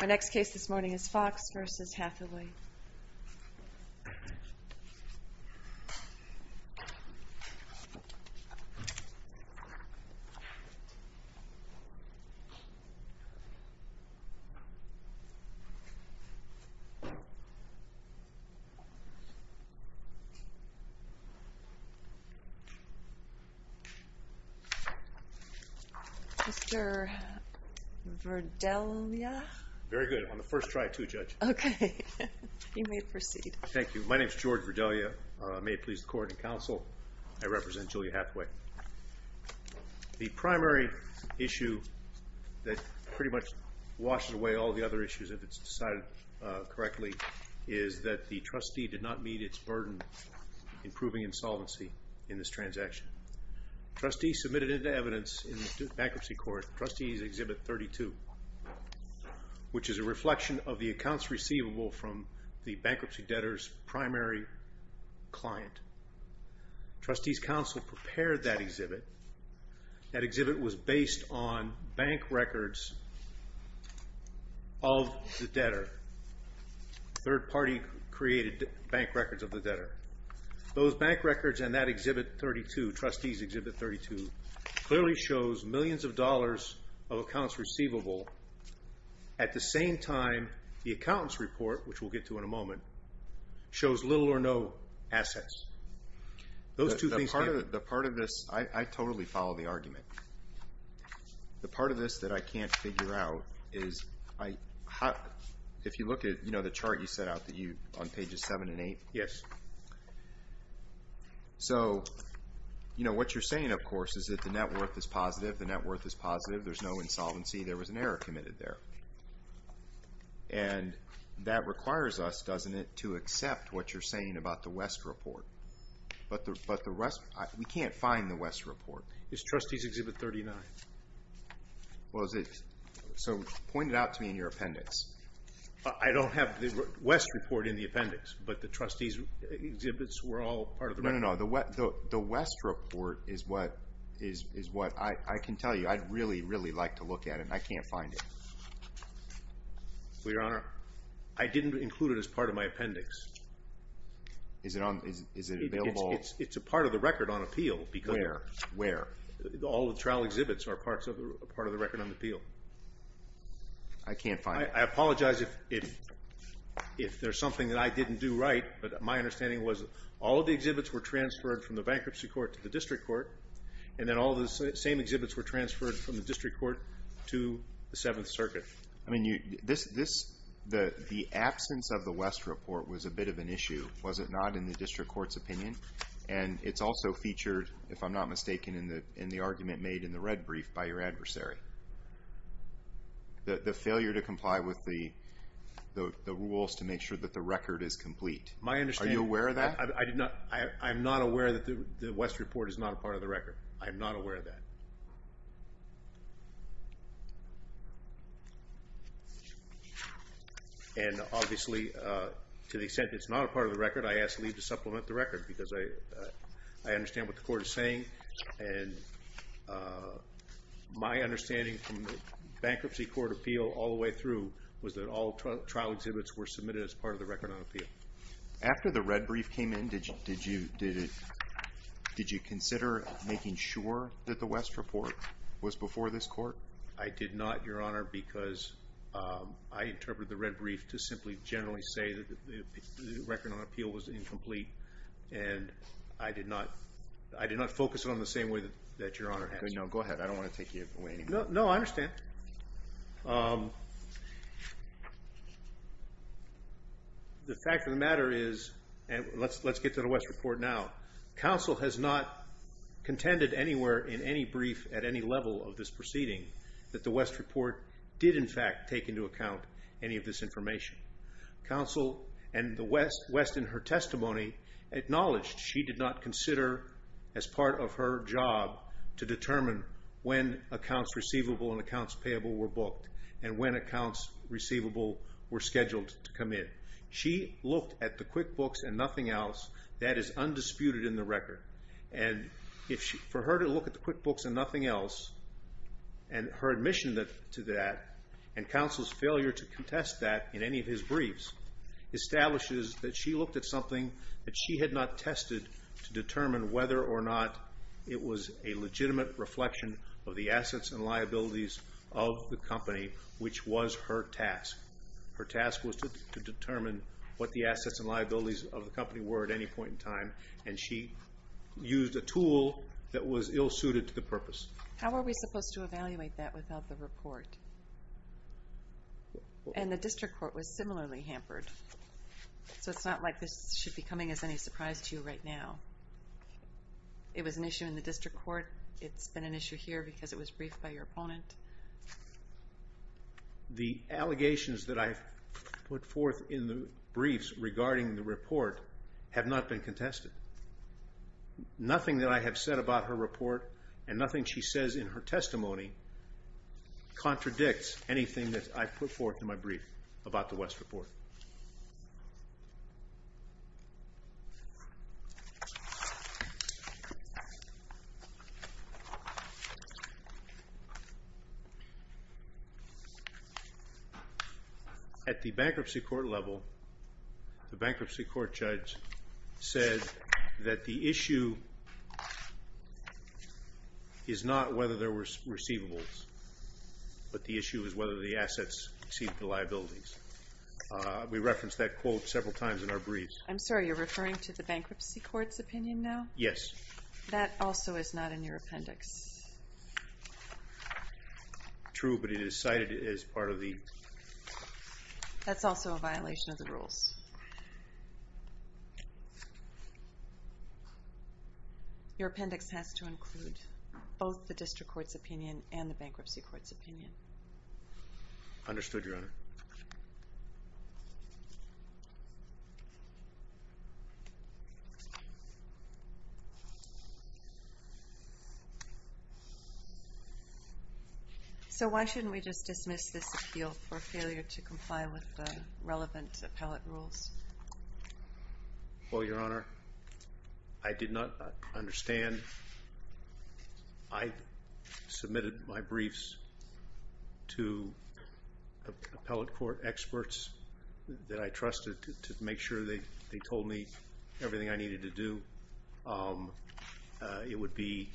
Our next case this morning is Fox v. Hathaway. Mr. Verdelia? Very good. On the first try, too, Judge. Okay. You may proceed. Thank you. My name is George Verdelia. May it please the Court and Counsel, I represent Julia Hathaway. The primary issue that pretty much washes away all the other issues, if it's decided correctly, is that the trustee did not meet its burden in proving insolvency in this transaction. Trustees submitted into evidence in the Bankruptcy Court Trustee's Exhibit 32, which is a reflection of the accounts receivable from the bankruptcy debtor's primary client. Trustees' Counsel prepared that exhibit. That exhibit was based on bank records of the debtor. Third party created bank records of the debtor. Those bank records and that Exhibit 32, Trustees' Exhibit 32, clearly shows millions of dollars of accounts receivable at the same time the accountant's report, which we'll get to in a moment, shows little or no assets. The part of this, I totally follow the argument. The part of this that I can't figure out is, if you look at the chart you set out on pages 7 and 8, so what you're saying, of course, is that the net worth is positive, the net worth is positive, there's no insolvency, there was an error committed there. And that requires us, doesn't it, to accept what you're saying about the West report. But we can't find the West report. It's Trustees' Exhibit 39. So point it out to me in your appendix. I don't have the West report in the appendix, but the Trustees' exhibits were all part of the record. No, no, no, the West report is what I can tell you. I'd really, really like to look at it, and I can't find it. Well, Your Honor, I didn't include it as part of my appendix. Is it available? It's a part of the record on appeal. Where? Where? All the trial exhibits are part of the record on appeal. I can't find it. I apologize if there's something that I didn't do right, but my understanding was all of the exhibits were transferred from the bankruptcy court to the district court, and then all of the same exhibits were transferred from the district court to the Seventh Circuit. I mean, the absence of the West report was a bit of an issue, was it not, in the district court's opinion? And it's also featured, if I'm not mistaken, in the argument made in the red brief by your adversary, the failure to comply with the rules to make sure that the record is complete. Are you aware of that? I'm not aware that the West report is not a part of the record. I'm not aware of that. And obviously, to the extent it's not a part of the record, I ask Lee to supplement the record because I understand what the court is saying, and my understanding from the bankruptcy court appeal all the way through was that all trial exhibits were submitted as part of the record on appeal. After the red brief came in, did you consider making sure that the West report was before this court? I did not, Your Honor, because I interpreted the red brief to simply generally say that the record on appeal was incomplete, and I did not focus it on the same way that Your Honor has. No, go ahead. I don't want to take you away anymore. No, I understand. The fact of the matter is, and let's get to the West report now, counsel has not contended anywhere in any brief at any level of this proceeding that the West report did in fact take into account any of this information. Counsel and the West in her testimony acknowledged she did not consider as part of her job to determine when accounts receivable and accounts payable were booked and when accounts receivable were scheduled to come in. She looked at the QuickBooks and nothing else that is undisputed in the record, and for her to look at the QuickBooks and nothing else and her admission to that and counsel's failure to contest that in any of his briefs establishes that she looked at something that she had not tested to determine whether or not it was a legitimate reflection of the assets and liabilities of the company, which was her task. Her task was to determine what the assets and liabilities of the company were at any point in time, and she used a tool that was ill-suited to the purpose. How are we supposed to evaluate that without the report? And the district court was similarly hampered, so it's not like this should be coming as any surprise to you right now. It was an issue in the district court. It's been an issue here because it was briefed by your opponent. The allegations that I've put forth in the briefs regarding the report have not been contested. Nothing that I have said about her report and nothing she says in her testimony contradicts anything that I've put forth in my brief about the West report. At the bankruptcy court level, the bankruptcy court judge said that the issue is not whether there were receivables, but the issue is whether the assets exceed the liabilities. We referenced that quote several times in our briefs. I'm sorry, you're referring to the bankruptcy court's opinion now? Yes. That also is not in your appendix. True, but it is cited as part of the... That's also a violation of the rules. Your appendix has to include both the district court's opinion and the bankruptcy court's opinion. Understood, Your Honor. So why shouldn't we just dismiss this appeal for failure to comply with the relevant appellate rules? Well, Your Honor, I did not understand. I submitted my briefs to appellate counsel, that I trusted to make sure they told me everything I needed to do. It would be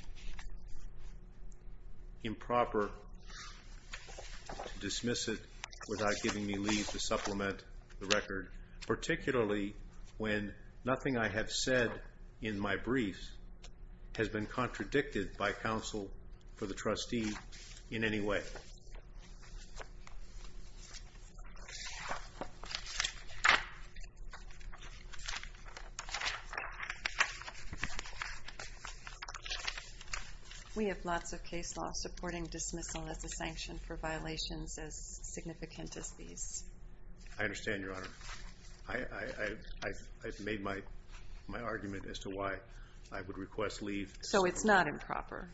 improper to dismiss it without giving me leave to supplement the record, particularly when nothing I have said in my briefs has been contradicted by counsel for the trustee in any way. Okay. We have lots of case law supporting dismissal as a sanction for violations as significant as these. I understand, Your Honor. I've made my argument as to why I would request leave. So it's not improper?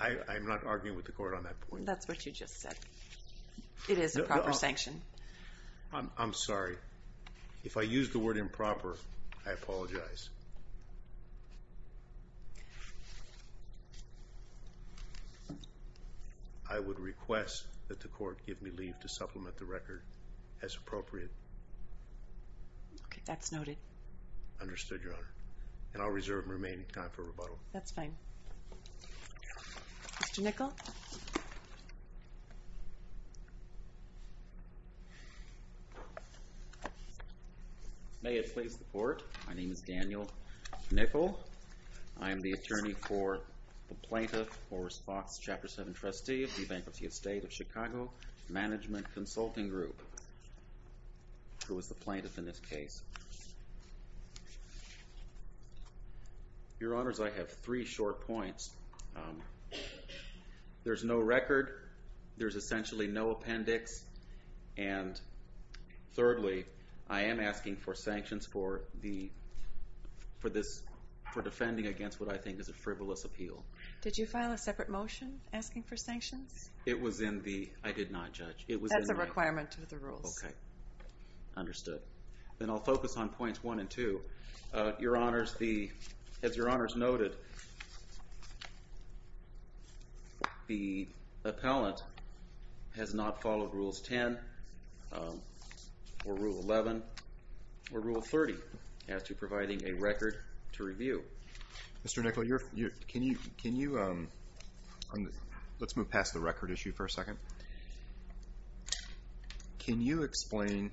I'm not arguing with the court on that point. That's what you just said. It is a proper sanction. I'm sorry. If I use the word improper, I apologize. I would request that the court give me leave to supplement the record as appropriate. Okay, that's noted. Understood, Your Honor. And I'll reserve remaining time for rebuttal. That's fine. Mr. Nickel? May it please the court. My name is Daniel Nickel. I am the attorney for the plaintiff or response Chapter 7 trustee of the Bankruptcy Estate of Chicago Management Consulting Group, who is the plaintiff in this case. Your Honors, I have three short points. There's no record. There's essentially no appendix. And thirdly, I am asking for sanctions for defending against what I think is a frivolous appeal. Did you file a separate motion asking for sanctions? It was in the... I did not judge. That's a requirement to the rules. Okay, understood. Then I'll focus on points one and two. Your Honors, as Your Honors noted, the appellant has not followed Rules 10 or Rule 11 or Rule 30 as to providing a record to review. Mr. Nickel, can you... Let's move past the record issue for a second. Can you explain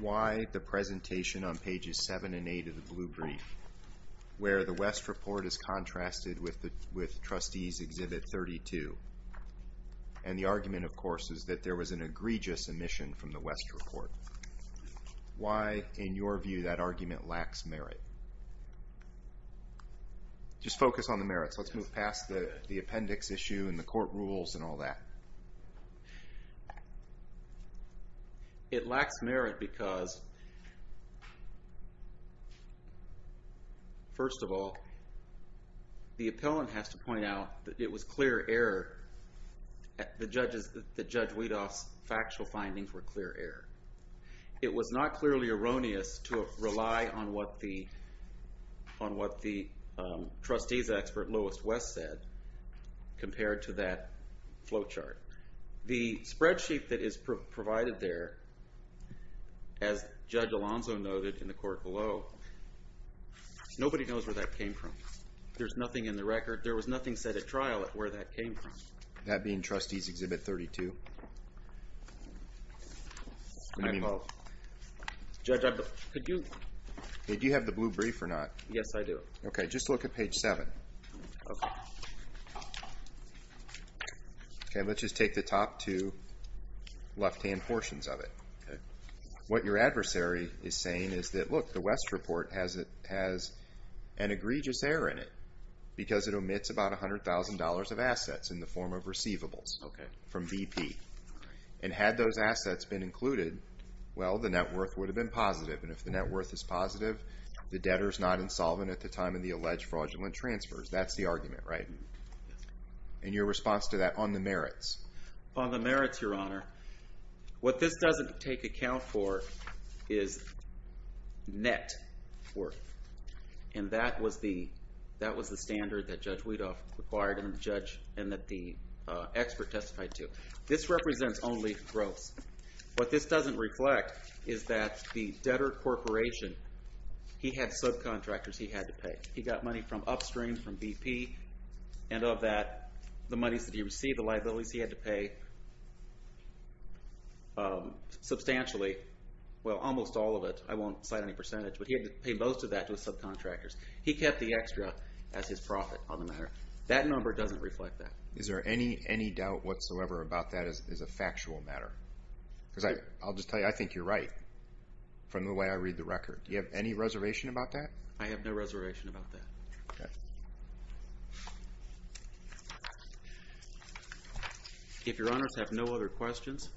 why the presentation on pages 7 and 8 of the blue brief, where the West Report is contrasted with Trustees Exhibit 32, and the argument, of course, is that there was an egregious omission from the West Report. Why, in your view, that argument lacks merit? Just focus on the merits. Let's move past the appendix issue and the court rules and all that. It lacks merit because... First of all, the appellant has to point out that it was clear error. The judge Weidoff's factual findings were clear error. It was not clearly erroneous to rely on what the... on what the trustees expert, Lois West, said compared to that flowchart. The spreadsheet that is provided there, as Judge Alonzo noted in the court below, nobody knows where that came from. There's nothing in the record. There was nothing said at trial at where that came from. That being Trustees Exhibit 32? I vote. Judge, could you... Do you have the blue brief or not? Yes, I do. Okay, just look at page 7. Okay. Okay, let's just take the top two left-hand portions of it. Okay. What your adversary is saying is that, look, the West report has an egregious error in it because it omits about $100,000 of assets in the form of receivables from BP. And had those assets been included, well, the net worth would have been positive. And if the net worth is positive, the debtor's not insolvent at the time of such fraudulent transfers. That's the argument, right? Yes. And your response to that on the merits? On the merits, Your Honor, what this doesn't take account for is net worth. And that was the standard that Judge Weedoff required and that the expert testified to. This represents only gross. What this doesn't reflect is that the debtor corporation, he had subcontractors he had to pay. He got money from upstream, from BP, and of that, the monies that he received, the liabilities he had to pay substantially. Well, almost all of it. I won't cite any percentage, but he had to pay most of that to his subcontractors. He kept the extra as his profit on the matter. That number doesn't reflect that. Is there any doubt whatsoever about that as a factual matter? Because I'll just tell you, I think you're right from the way I read the record. Do you have any reservation about that? I have no reservation about that. If Your Honors have no other questions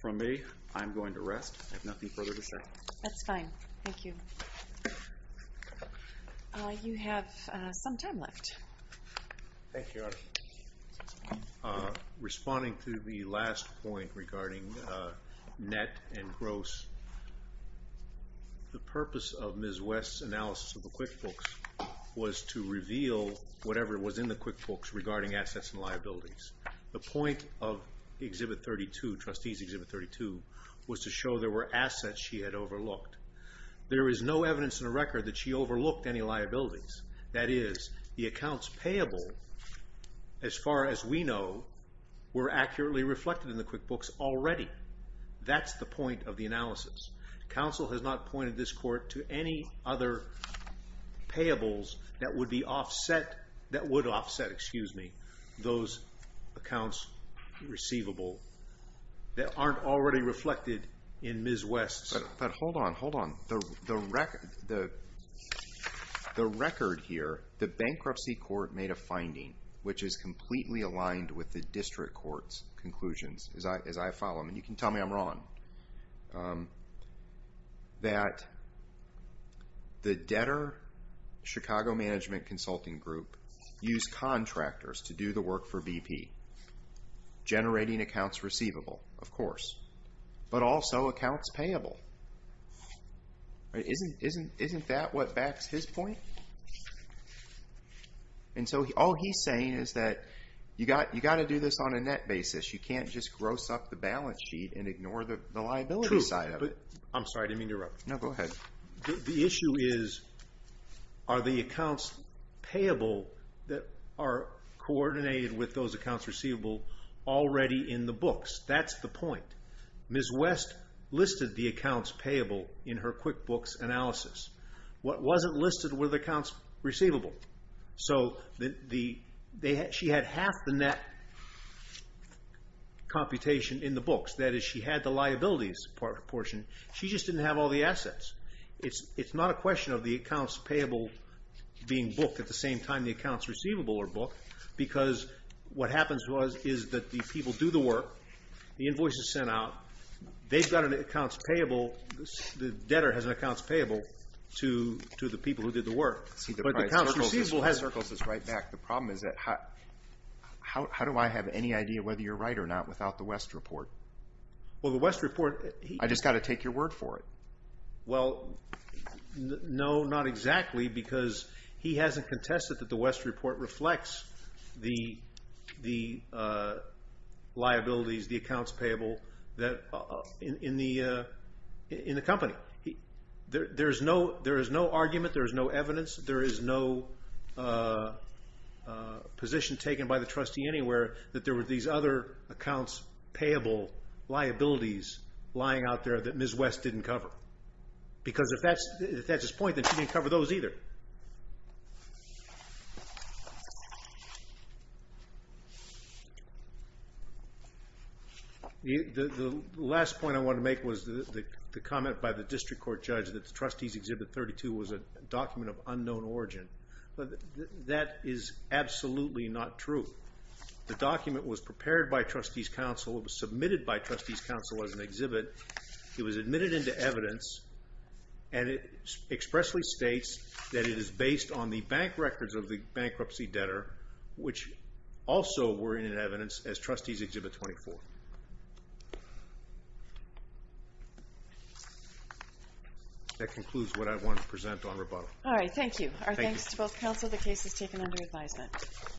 from me, I'm going to rest. I have nothing further to say. That's fine. Thank you. You have some time left. Thank you, Your Honor. Responding to the last point regarding net and gross, the purpose of Ms. West's analysis of the QuickBooks was to reveal whatever was in the QuickBooks regarding assets and liabilities. The point of Exhibit 32, Trustees' Exhibit 32, was to show there were assets she had overlooked. There is no evidence in the record that she overlooked any liabilities. That is, the accounts payable, as far as we know, were accurately reflected in the QuickBooks already. That's the point of the analysis. Counsel has not pointed this court to any other payables that would offset those accounts receivable that aren't already reflected in Ms. West's. But hold on, hold on. The record here, the bankruptcy court made a finding, which is completely aligned with the district court's conclusions, as I follow them, and you can tell me I'm wrong, that the debtor Chicago Management Consulting Group used contractors to do the work for BP, generating accounts receivable, of course, but also accounts payable. Isn't that what backs his point? And so all he's saying is that you've got to do this on a net basis. You can't just gross up the balance sheet and ignore the liability side of it. True, but I'm sorry to interrupt. No, go ahead. The issue is, are the accounts payable that are coordinated with those accounts receivable already in the books? That's the point. Ms. West listed the accounts payable in her QuickBooks analysis. What wasn't listed were the accounts receivable. So she had half the net computation in the books. That is, she had the liabilities portion. She just didn't have all the assets. It's not a question of the accounts payable being booked at the same time the accounts receivable are booked because what happens is that the people do the work, the invoice is sent out, they've got an accounts payable, the debtor has an accounts payable to the people who did the work. But the accounts receivable has... The problem is that how do I have any idea whether you're right or not without the West report? Well, the West report... I just got to take your word for it. Well, no, not exactly because he hasn't contested that the West report reflects the liabilities, the accounts payable in the company. There is no argument, there is no evidence there is no position taken by the trustee anywhere that there were these other accounts payable liabilities lying out there that Ms. West didn't cover because if that's his point, then she didn't cover those either. The last point I want to make was the comment by the district court judge that Trustees Exhibit 32 was a document of unknown origin. That is absolutely not true. The document was prepared by Trustees Council, it was submitted by Trustees Council as an exhibit, it was admitted into evidence, and it expressly states that it is based on the bank records of the bankruptcy debtor, which also were in evidence as Trustees Exhibit 24. That concludes what I want to present on rebuttal. All right, thank you. Our thanks to both counsel. The case is taken under advisement.